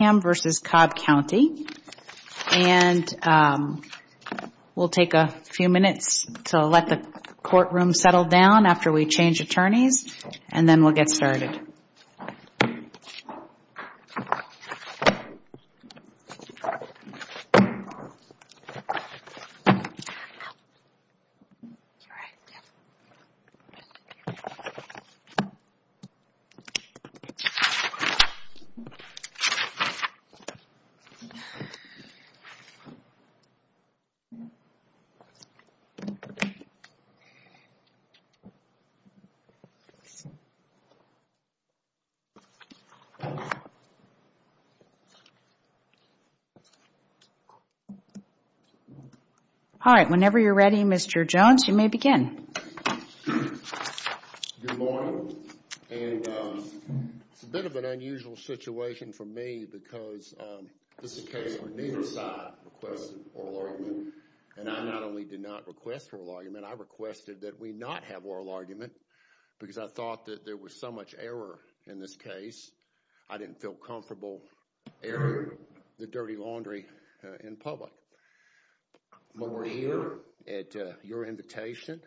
and we'll take a few minutes to let the courtroom settle down after we change attorneys and then we'll get started. Whenever you're ready, Mr. Jones, you may begin. Good morning. It's a bit of an unusual situation for me because this is a case where neither side requested oral argument. And I not only did not request oral argument, I requested that we not have oral argument because I thought that there was so much error in this case. I didn't feel comfortable airing the dirty laundry in public. But we're here at your invitation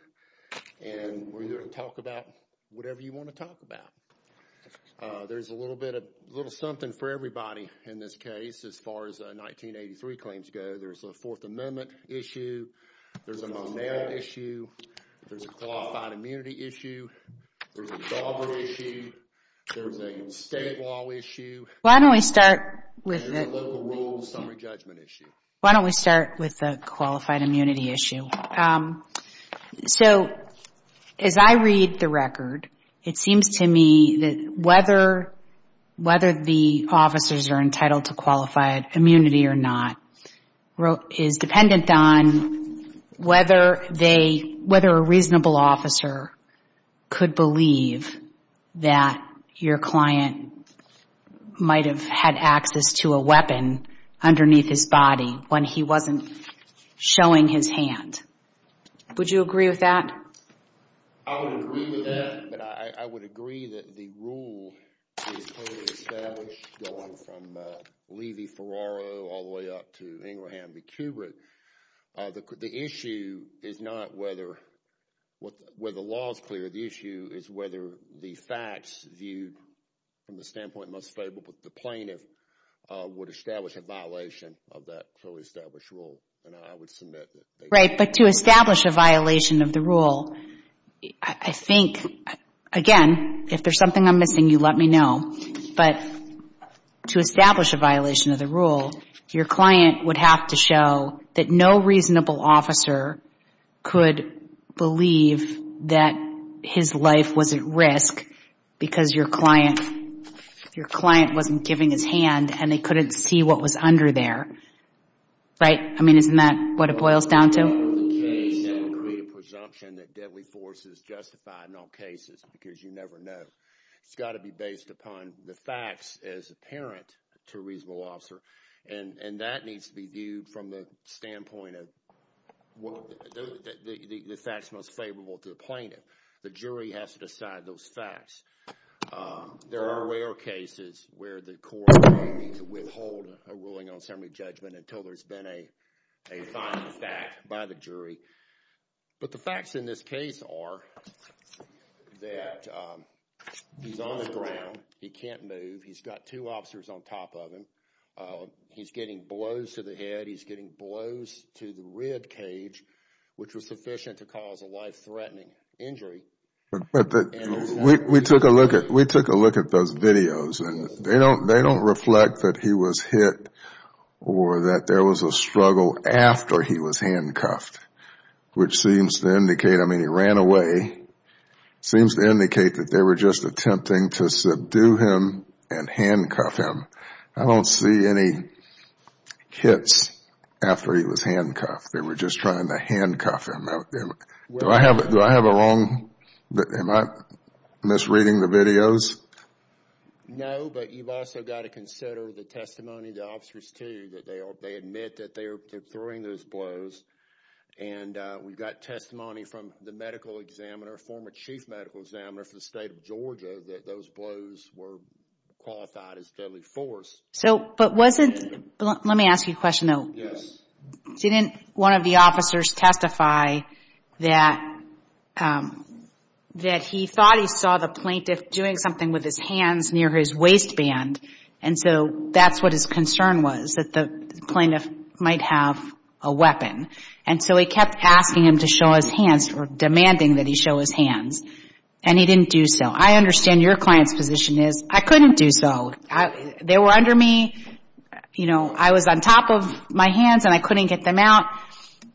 and we're here to talk about whatever you want to talk about. There's a little something for everybody in this case as far as 1983 claims go. There's a Fourth Amendment issue. There's a Monero issue. There's a qualified immunity issue. There's a Dauber issue. There's a state law issue. Why don't we start with the qualified immunity issue? So as I read the record, it seems to me that whether the officers are entitled to qualified immunity or not is dependent on whether a reasonable officer could believe that your client might have had access to a weapon underneath his body when he wasn't showing his hand. Would you agree with that? I would agree with that, but I would agree that the rule is totally established going from Levy-Ferraro all the way up to Ingraham v. Kubrick. The issue is not whether the law is clear. The issue is whether the facts viewed from the standpoint most favorable to the plaintiff would establish a violation of that fully established rule. Right, but to establish a violation of the rule, I think, again, if there's something I'm missing, you let me know, but to establish a violation of the rule, your client would have to show that no reasonable officer could believe that his life was at risk because your client wasn't giving his hand and they couldn't see what was under there. Right? I mean, isn't that what it boils down to? The case would create a presumption that deadly force is justified in all cases because you never know. It's got to be based upon the facts as apparent to a reasonable officer, and that needs to be viewed from the standpoint of the facts most favorable to the plaintiff. The jury has to decide those facts. There are rare cases where the court may need to withhold a ruling on assembly judgment until there's been a final fact by the jury. But the facts in this case are that he's on the ground. He can't move. He's got two officers on top of him. He's getting blows to the head. He's getting blows to the rib cage, which was sufficient to cause a life-threatening injury. We took a look at those videos, and they don't reflect that he was hit or that there was a struggle after he was handcuffed, which seems to indicate, I mean, he ran away. It seems to indicate that they were just attempting to subdue him and handcuff him. I don't see any hits after he was handcuffed. They were just trying to handcuff him. Do I have it wrong? Am I misreading the videos? No, but you've also got to consider the testimony of the officers, too, that they admit that they're throwing those blows. And we've got testimony from the medical examiner, former chief medical examiner for the state of Georgia, that those blows were qualified as deadly force. But wasn't – let me ask you a question, though. Yes. Didn't one of the officers testify that he thought he saw the plaintiff doing something with his hands near his waistband, and so that's what his concern was, that the plaintiff might have a weapon. And so he kept asking him to show his hands or demanding that he show his hands, and he didn't do so. I understand your client's position is, I couldn't do so. They were under me. You know, I was on top of my hands, and I couldn't get them out.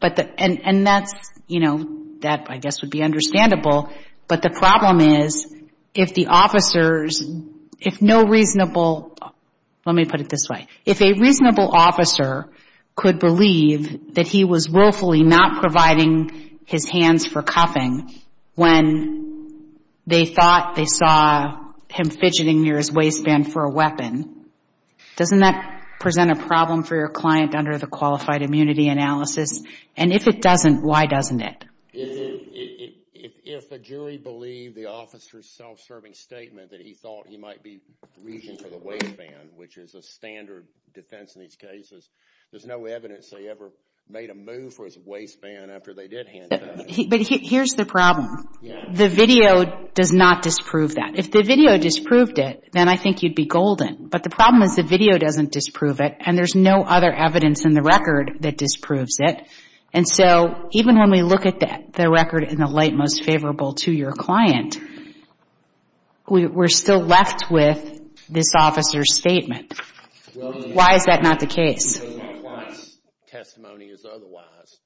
And that's – you know, that, I guess, would be understandable. But the problem is if the officers – if no reasonable – let me put it this way. If a reasonable officer could believe that he was willfully not providing his hands for cuffing when they thought they saw him fidgeting near his waistband for a weapon, doesn't that present a problem for your client under the qualified immunity analysis? And if it doesn't, why doesn't it? If a jury believed the officer's self-serving statement that he thought he might be reaching for the waistband, which is a standard defense in these cases, there's no evidence they ever made a move for his waistband after they did hand it out. But here's the problem. The video does not disprove that. If the video disproved it, then I think you'd be golden. But the problem is the video doesn't disprove it, and there's no other evidence in the record that disproves it. And so even when we look at the record in the light most favorable to your client, we're still left with this officer's statement. Why is that not the case? Because my client's testimony is otherwise,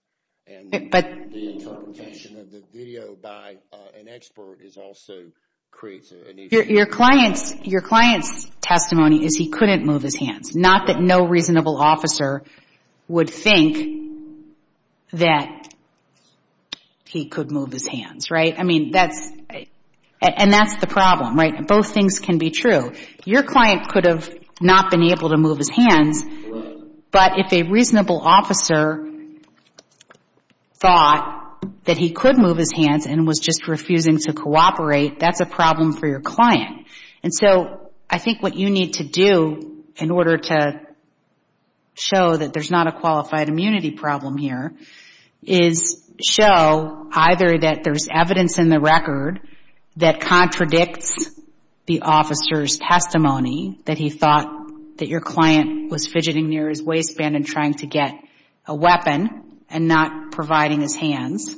and the interpretation of the video by an expert also creates an issue. Your client's testimony is he couldn't move his hands, not that no reasonable officer would think that he could move his hands, right? I mean, that's the problem, right? Both things can be true. Your client could have not been able to move his hands, but if a reasonable officer thought that he could move his hands and was just refusing to cooperate, that's a problem for your client. And so I think what you need to do in order to show that there's not a qualified immunity problem here is show either that there's evidence in the record that contradicts the officer's testimony, that he thought that your client was fidgeting near his waistband and trying to get a weapon and not providing his hands,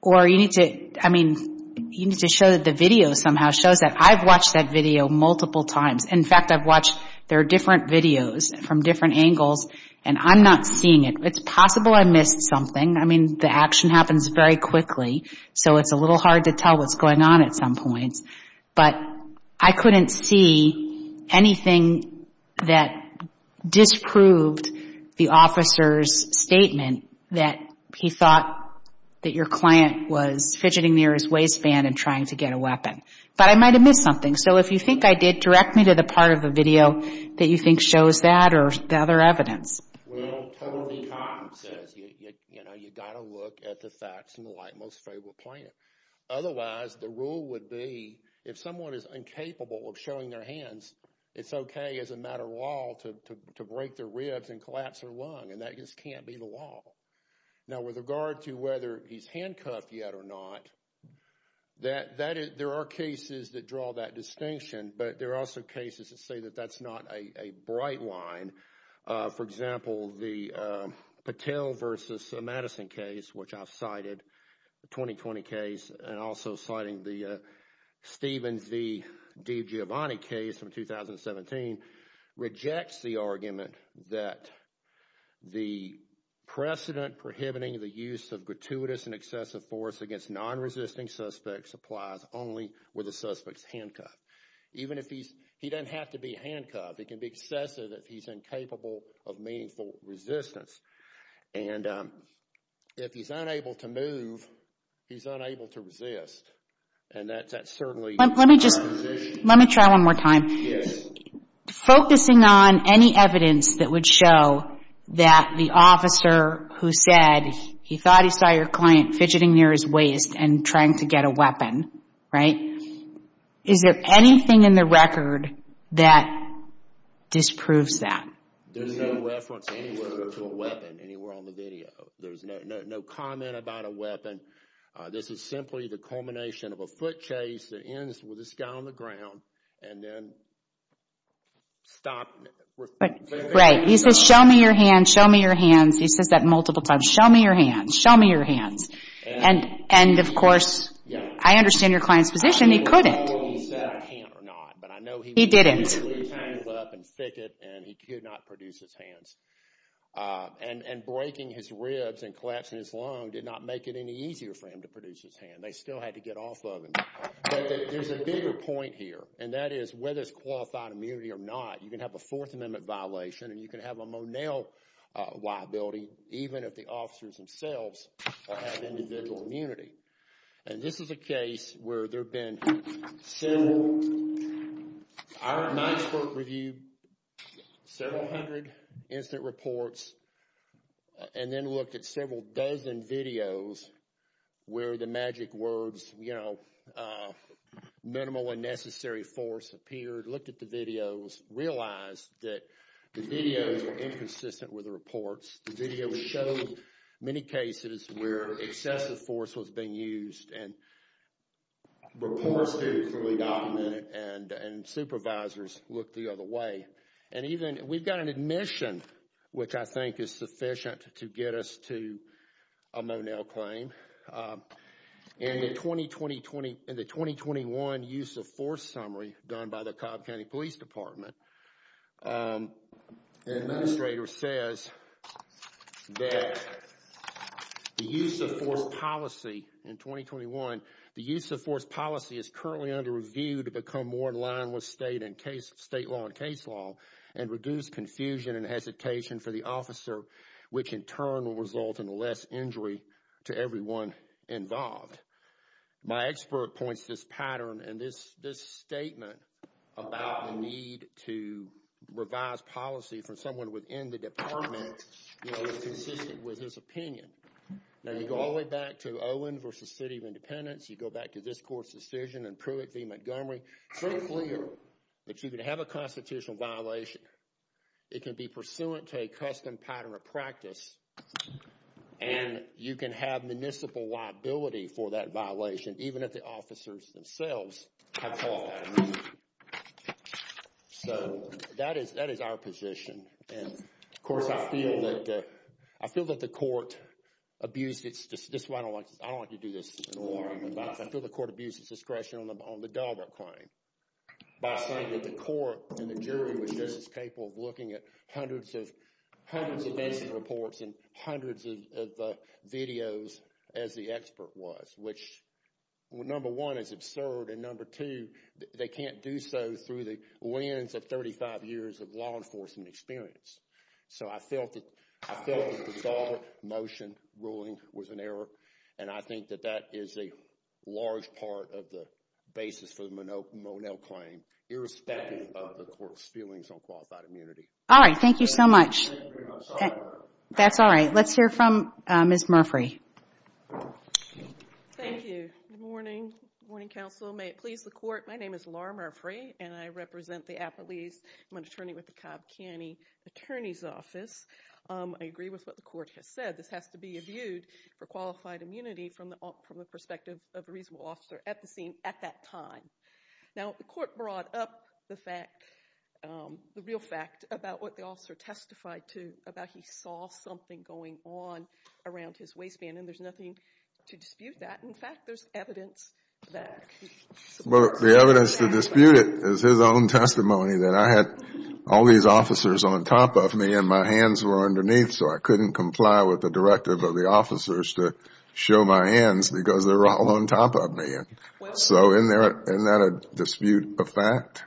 or you need to show that the video somehow shows that. I've watched that video multiple times. In fact, I've watched their different videos from different angles, and I'm not seeing it. It's possible I missed something. I mean, the action happens very quickly, so it's a little hard to tell what's going on at some points. But I couldn't see anything that disproved the officer's statement that he thought that your client was fidgeting near his waistband and trying to get a weapon. But I might have missed something. So if you think I did, direct me to the part of the video that you think shows that or the other evidence. Well, totally common sense. You've got to look at the facts in the light most favorable planet. Otherwise, the rule would be if someone is incapable of showing their hands, it's okay as a matter of law to break their ribs and collapse their lung, and that just can't be the law. Now, with regard to whether he's handcuffed yet or not, there are cases that draw that distinction, but there are also cases that say that that's not a bright line. For example, the Patel v. Madison case, which I've cited, the 2020 case, and also citing the Stevens v. DiGiovanni case from 2017, rejects the argument that the precedent prohibiting the use of gratuitous and excessive force against non-resisting suspects applies only with the suspect's handcuff. Even if he's, he doesn't have to be handcuffed. It can be excessive if he's incapable of meaningful resistance. And if he's unable to move, he's unable to resist. And that's certainly a position. Let me just, let me try one more time. Yes. Focusing on any evidence that would show that the officer who said he thought he saw your client fidgeting near his waist and trying to get a weapon, right? Yes. Is there anything in the record that disproves that? There's no reference anywhere to a weapon anywhere on the video. There's no comment about a weapon. This is simply the culmination of a foot chase that ends with this guy on the ground and then stop. Right. He says, show me your hands, show me your hands. He says that multiple times. Show me your hands, show me your hands. And, of course, I understand your client's position. He couldn't. He said I can't or not. He didn't. But I know he was really tangled up and fidget and he could not produce his hands. And breaking his ribs and collapsing his lung did not make it any easier for him to produce his hand. They still had to get off of him. There's a bigger point here, and that is whether it's qualified immunity or not, you can have a Fourth Amendment violation and you can have a Monell liability, even if the officers themselves have individual immunity. And this is a case where there have been several – I went to Knoxburg, reviewed several hundred incident reports, and then looked at several dozen videos where the magic words, you know, minimal and necessary force appeared, looked at the videos, realized that the videos were inconsistent with the reports. The videos showed many cases where excessive force was being used, and reports were clearly documented, and supervisors looked the other way. And even – we've got an admission, which I think is sufficient to get us to a Monell claim. And in the 2020-2021 use of force summary done by the Cobb County Police Department, the administrator says that the use of force policy in 2021, the use of force policy is currently under review to become more in line with state law and case law and reduce confusion and hesitation for the officer, which in turn will result in less injury to everyone involved. My expert points to this pattern, and this statement about the need to revise policy for someone within the department is consistent with his opinion. Now, you go all the way back to Owen v. City of Independence. You go back to this court's decision in Pruitt v. Montgomery. It's very clear that you can have a constitutional violation. It can be pursuant to a custom pattern of practice, and you can have municipal liability for that violation, even if the officers themselves have called that a mistake. So that is our position. And, of course, I feel that the court abused its – this is why I don't like to do this in the morning. I feel the court abused its discretion on the Dalbert claim by saying that the court and the jury was just as capable of looking at hundreds of – hundreds of national reports and hundreds of videos as the expert was, which, number one, is absurd, and number two, they can't do so through the lens of 35 years of law enforcement experience. So I felt that the Dalbert motion ruling was an error, and I think that that is a large part of the basis for the Monell claim, irrespective of the court's feelings on qualified immunity. All right. Thank you so much. That's all right. Let's hear from Ms. Murphree. Thank you. Good morning. Good morning, counsel. May it please the court. My name is Laura Murphree, and I represent the Appalachian – I'm an attorney with the Cobb County Attorney's Office. I agree with what the court has said. This has to be imbued for qualified immunity from the perspective of a reasonable officer at the scene at that time. Now, the court brought up the fact – the real fact about what the officer testified to about he saw something going on around his waistband, and there's nothing to dispute that. In fact, there's evidence that – Well, the evidence to dispute it is his own testimony that I had all these officers on top of me and my hands were underneath, so I couldn't comply with the directive of the officers to show my hands because they were all on top of me. So isn't that a dispute of fact?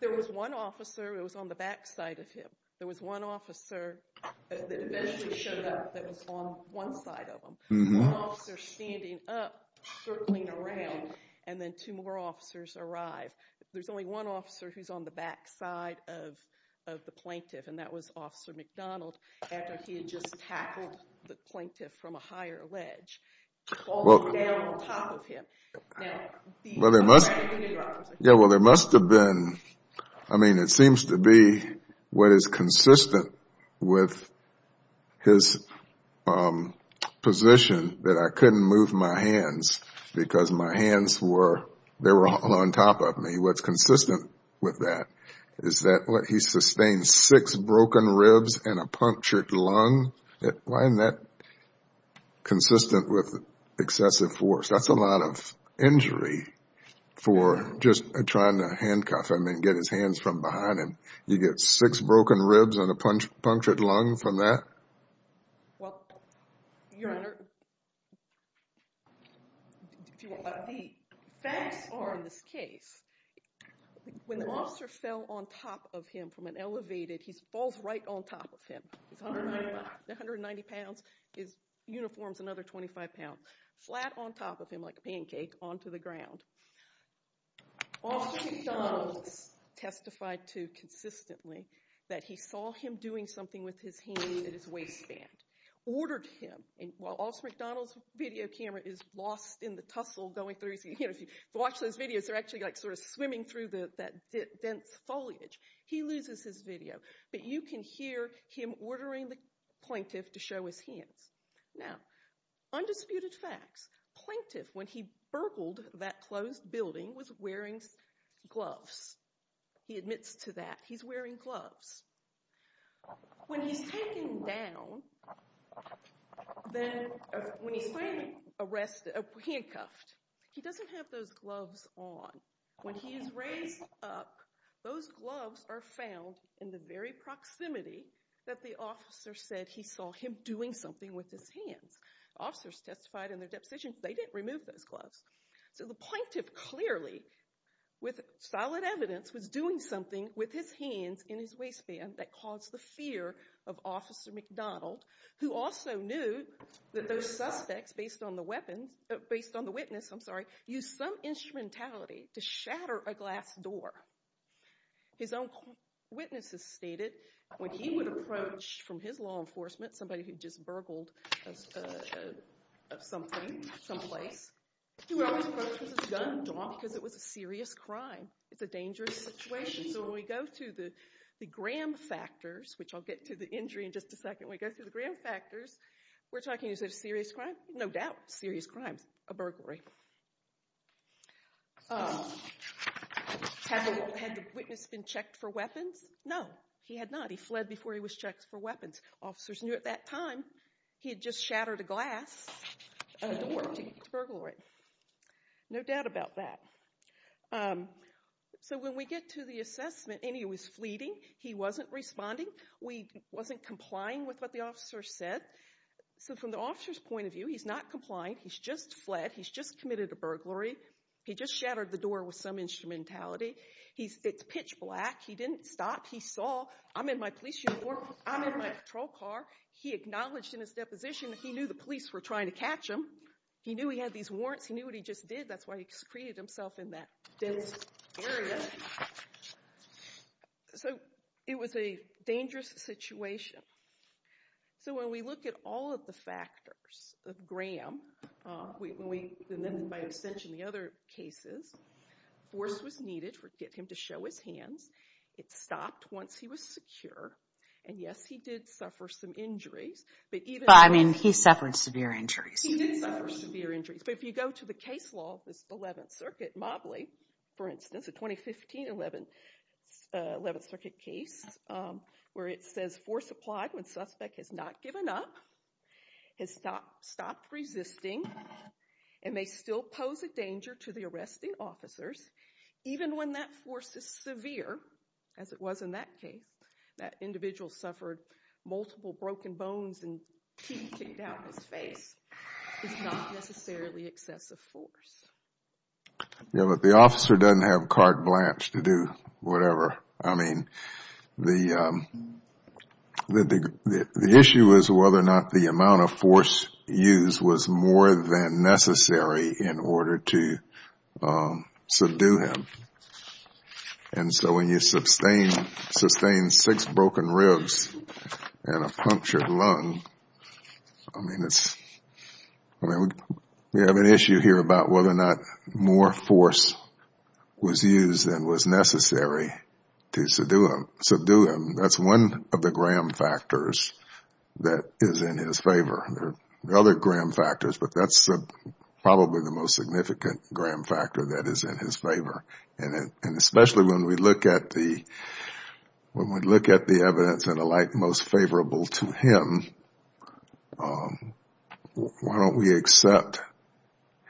There was one officer who was on the back side of him. There was one officer that eventually showed up that was on one side of him. One officer standing up, circling around, and then two more officers arrived. There's only one officer who's on the back side of the plaintiff, and that was Officer McDonald after he had just tackled the plaintiff from a higher ledge, falling down on top of him. Well, there must have been – I mean, it seems to be what is consistent with his position that I couldn't move my hands because my hands were – they were all on top of me. What's consistent with that is that he sustained six broken ribs and a punctured lung. Why isn't that consistent with excessive force? That's a lot of injury for just trying to handcuff him and get his hands from behind him. You get six broken ribs and a punctured lung from that? Well, Your Honor, the facts are in this case, when the officer fell on top of him from an elevated – he falls right on top of him. He's 190 pounds. His uniform's another 25 pounds. Flat on top of him like a pancake onto the ground. Officer McDonald testified to consistently that he saw him doing something with his hands at his waistband, ordered him – and while Officer McDonald's video camera is lost in the tussle going through his – if you watch those videos, they're actually like sort of swimming through that dense foliage. He loses his video, but you can hear him ordering the plaintiff to show his hands. Now, undisputed facts. Plaintiff, when he burgled that closed building, was wearing gloves. He admits to that. He's wearing gloves. When he's taken down, when he's finally handcuffed, he doesn't have those gloves on. When he is raised up, those gloves are found in the very proximity that the officer said he saw him doing something with his hands. Officers testified in their deposition they didn't remove those gloves. So the plaintiff clearly, with solid evidence, was doing something with his hands in his waistband that caused the fear of Officer McDonald, who also knew that those suspects, based on the witness, used some instrumentality to shatter a glass door. His own witnesses stated when he would approach from his law enforcement, somebody who just burgled something, someplace, he would always approach with his gun, because it was a serious crime. It's a dangerous situation. So when we go to the Graham factors, which I'll get to the injury in just a second, when we go to the Graham factors, we're talking, is it a serious crime? No doubt, serious crime, a burglary. Had the witness been checked for weapons? No, he had not. He fled before he was checked for weapons. Officers knew at that time he had just shattered a glass door to get to burglary. No doubt about that. So when we get to the assessment, and he was fleeting, he wasn't responding, he wasn't complying with what the officer said. So from the officer's point of view, he's not complying, he's just fled, he's just committed a burglary, he just shattered the door with some instrumentality, it's pitch black, he didn't stop, he saw, I'm in my police uniform, I'm in my patrol car, he acknowledged in his deposition that he knew the police were trying to catch him, he knew he had these warrants, he knew what he just did, that's why he secreted himself in that dense area. So it was a dangerous situation. So when we look at all of the factors of Graham, and then by extension the other cases, force was needed to get him to show his hands, it stopped once he was secure, and yes, he did suffer some injuries. But I mean, he suffered severe injuries. He did suffer severe injuries. But if you go to the case law of the 11th Circuit, Mobley, for instance, a 2015 11th Circuit case, where it says force applied when suspect has not given up, has stopped resisting, and may still pose a danger to the arresting officers, even when that force is severe, as it was in that case, that individual suffered multiple broken bones and teeth kicked out of his face, it's not necessarily excessive force. Yeah, but the officer doesn't have carte blanche to do whatever. I mean, the issue is whether or not the amount of force used was more than necessary in order to subdue him. And so when you sustain six broken ribs and a punctured lung, I mean, we have an issue here about whether or not more force was used than was necessary to subdue him. That's one of the gram factors that is in his favor. There are other gram factors, but that's probably the most significant gram factor that is in his favor. And especially when we look at the evidence in a light most favorable to him, why don't we accept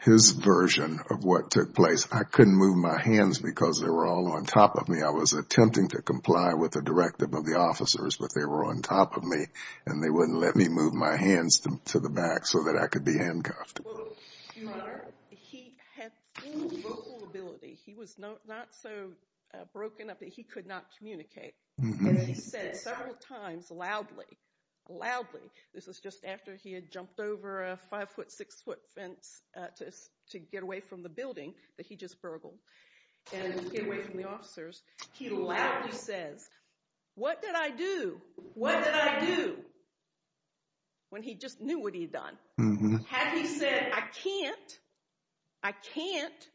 his version of what took place? I couldn't move my hands because they were all on top of me. I was attempting to comply with the directive of the officers, but they were on top of me, and they wouldn't let me move my hands to the back so that I could be handcuffed. Well, your Honor, he had full vocal ability. He was not so broken up that he could not communicate, and he said several times loudly, loudly, this was just after he had jumped over a five-foot, six-foot fence to get away from the building that he just burgled, and to get away from the officers, he loudly says, what did I do? What did I do? When he just knew what he had done. Had he said, I can't, I can't,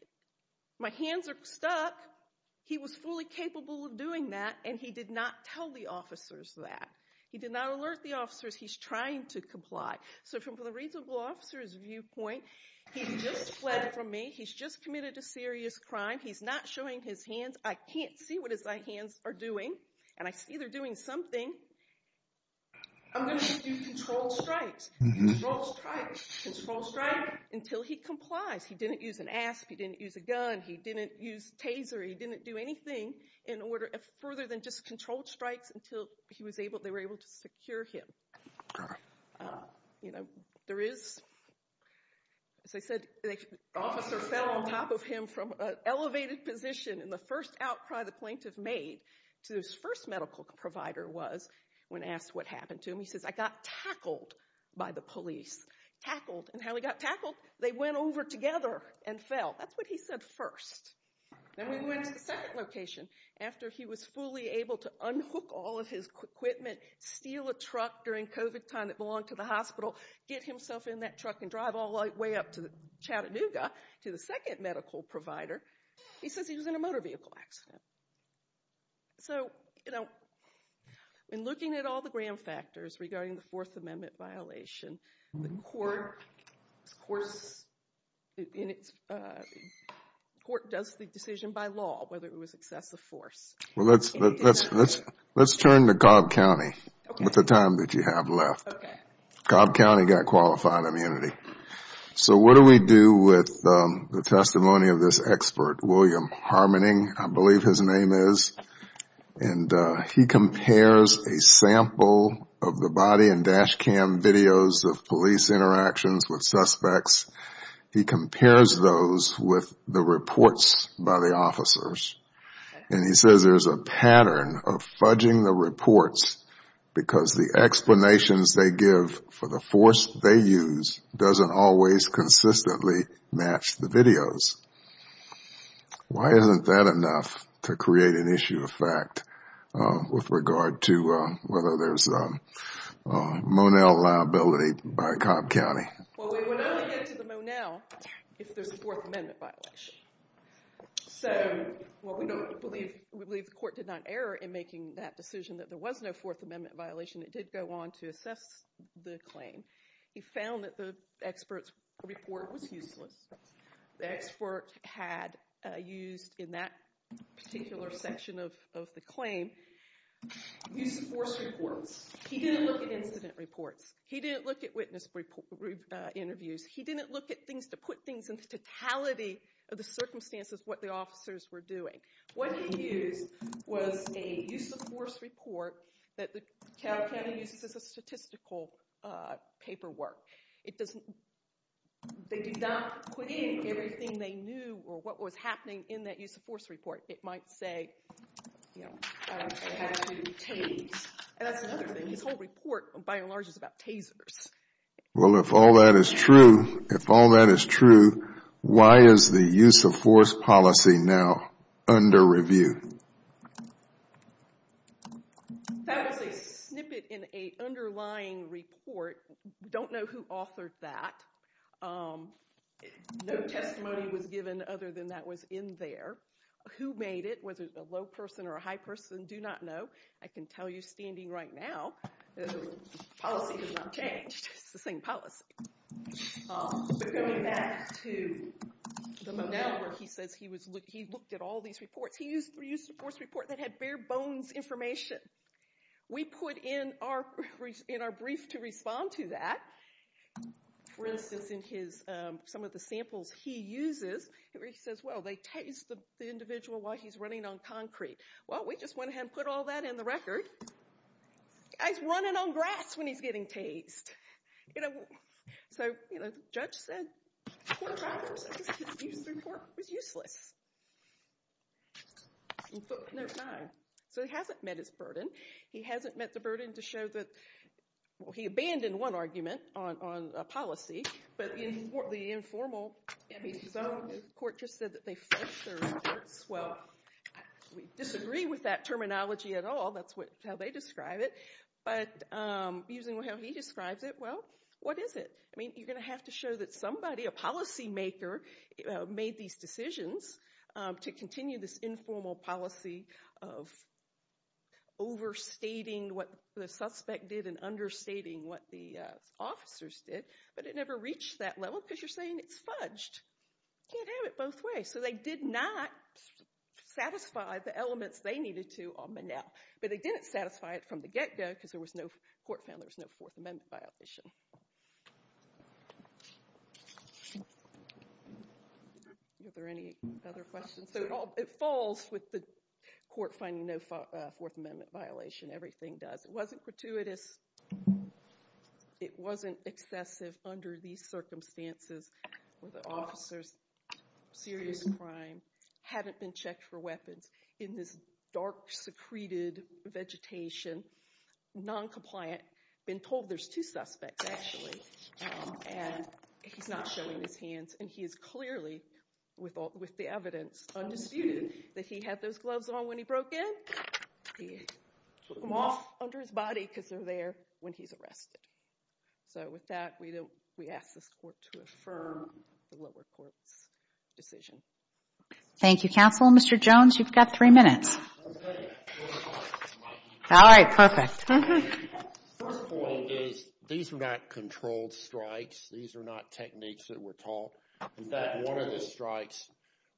my hands are stuck, he was fully capable of doing that, and he did not tell the officers that. He did not alert the officers he's trying to comply. So from the reasonable officer's viewpoint, he just fled from me, he's just committed a serious crime, he's not showing his hands, I can't see what his hands are doing, and I see they're doing something. I'm going to do controlled strikes, controlled strikes, controlled strikes, until he complies. He didn't use an asp, he didn't use a gun, he didn't use taser, he didn't do anything in order, further than just controlled strikes until he was able, they were able to secure him. You know, there is, as I said, the officer fell on top of him from an elevated position, and the first outcry the plaintiff made to his first medical provider was, when asked what happened to him, he says, I got tackled by the police. Tackled, and how he got tackled? They went over together and fell. That's what he said first. Then we went to the second location. After he was fully able to unhook all of his equipment, steal a truck during COVID time that belonged to the hospital, get himself in that truck and drive all the way up to Chattanooga to the second medical provider, he says he was in a motor vehicle accident. So, you know, in looking at all the grand factors regarding the Fourth Amendment violation, the court does the decision by law whether it was excessive force. Well, let's turn to Cobb County with the time that you have left. Cobb County got qualified immunity. So what do we do with the testimony of this expert, William Harmoning, I believe his name is, and he compares a sample of the body and dash cam videos of police interactions with suspects. He compares those with the reports by the officers, and he says there's a pattern of fudging the reports because the explanations they give for the force they use doesn't always consistently match the videos. Why isn't that enough to create an issue of fact with regard to whether there's a Monell liability by Cobb County? Well, we would only get to the Monell if there's a Fourth Amendment violation. So, well, we believe the court did not err in making that decision that there was no Fourth Amendment violation. It did go on to assess the claim. He found that the expert's report was useless. The expert had used, in that particular section of the claim, use of force reports. He didn't look at incident reports. He didn't look at witness interviews. He didn't look at things to put things into totality of the circumstances of what the officers were doing. What he used was a use of force report that Cobb County uses as a statistical paperwork. They did not put in everything they knew or what was happening in that use of force report. It might say, you know, I had to tase. And that's another thing. His whole report, by and large, is about tasers. Well, if all that is true, if all that is true, why is the use of force policy now under review? That was a snippet in an underlying report. Don't know who authored that. No testimony was given other than that was in there. Who made it, was it a low person or a high person, do not know. I can tell you standing right now, policy has not changed. It's the same policy. But going back to the Manel where he says he looked at all these reports, he used a use of force report that had bare bones information. We put in our brief to respond to that, for instance, in some of the samples he uses, where he says, well, they tased the individual while he's running on concrete. Well, we just went ahead and put all that in the record. He's running on grass when he's getting tased. So the judge said the use of force report was useless. So he hasn't met his burden. He hasn't met the burden to show that he abandoned one argument on policy, but the informal court just said that they fleshed their reports. Well, we disagree with that terminology at all. That's how they describe it. But using how he describes it, well, what is it? I mean, you're going to have to show that somebody, a policymaker, made these decisions to continue this informal policy of overstating what the suspect did and understating what the officers did. But it never reached that level because you're saying it's fudged. You can't have it both ways. So they did not satisfy the elements they needed to on Manel. But they didn't satisfy it from the get-go because the court found there was no Fourth Amendment violation. Are there any other questions? So it falls with the court finding no Fourth Amendment violation. Everything does. It wasn't gratuitous. It wasn't excessive under these circumstances where the officers, serious crime, haven't been checked for weapons in this dark, secreted vegetation, noncompliant, been told there's two suspects, actually, and he's not showing his hands. And he is clearly, with the evidence undisputed, that he had those gloves on when he broke in. He took them off under his body because they're there when he's arrested. So with that, we ask this court to affirm the lower court's decision. Thank you, counsel. Mr. Jones, you've got three minutes. All right, perfect. First point is these are not controlled strikes. These are not techniques that were taught. In fact, one of the strikes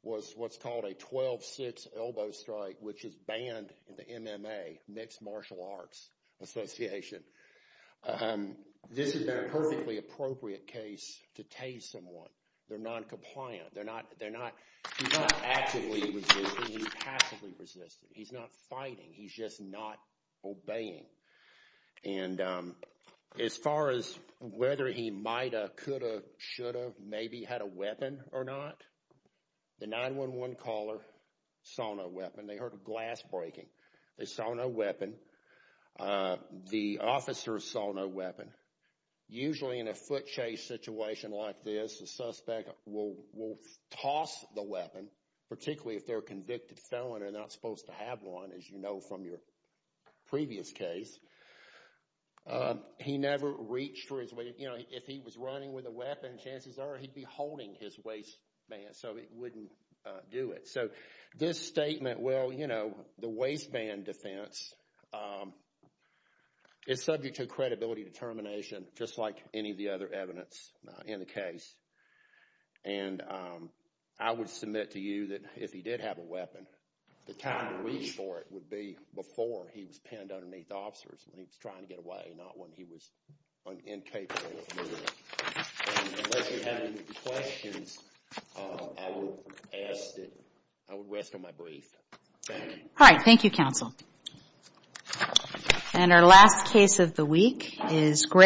was what's called a 12-6 elbow strike, which is banned in the MMA, Mixed Martial Arts Association. This is a perfectly appropriate case to tase someone. They're noncompliant. He's not actively resisting. He's passively resisting. He's not fighting. He's just not obeying. And as far as whether he might have, could have, should have, maybe had a weapon or not, the 911 caller saw no weapon. They heard a glass breaking. They saw no weapon. The officer saw no weapon. Usually in a foot chase situation like this, the suspect will toss the weapon, particularly if they're a convicted felon and they're not supposed to have one, as you know from your previous case. He never reached for his weapon. If he was running with a weapon, chances are he'd be holding his waistband so he wouldn't do it. So this statement, well, you know, the waistband defense is subject to credibility determination, just like any of the other evidence in the case. And I would submit to you that if he did have a weapon, the time to reach for it would be before he was pinned underneath the officers when he was trying to get away, not when he was incapable of moving it. Unless you have any questions, I would rest on my brief. Thank you. All right. Thank you, counsel. And our last case of the week is Greg.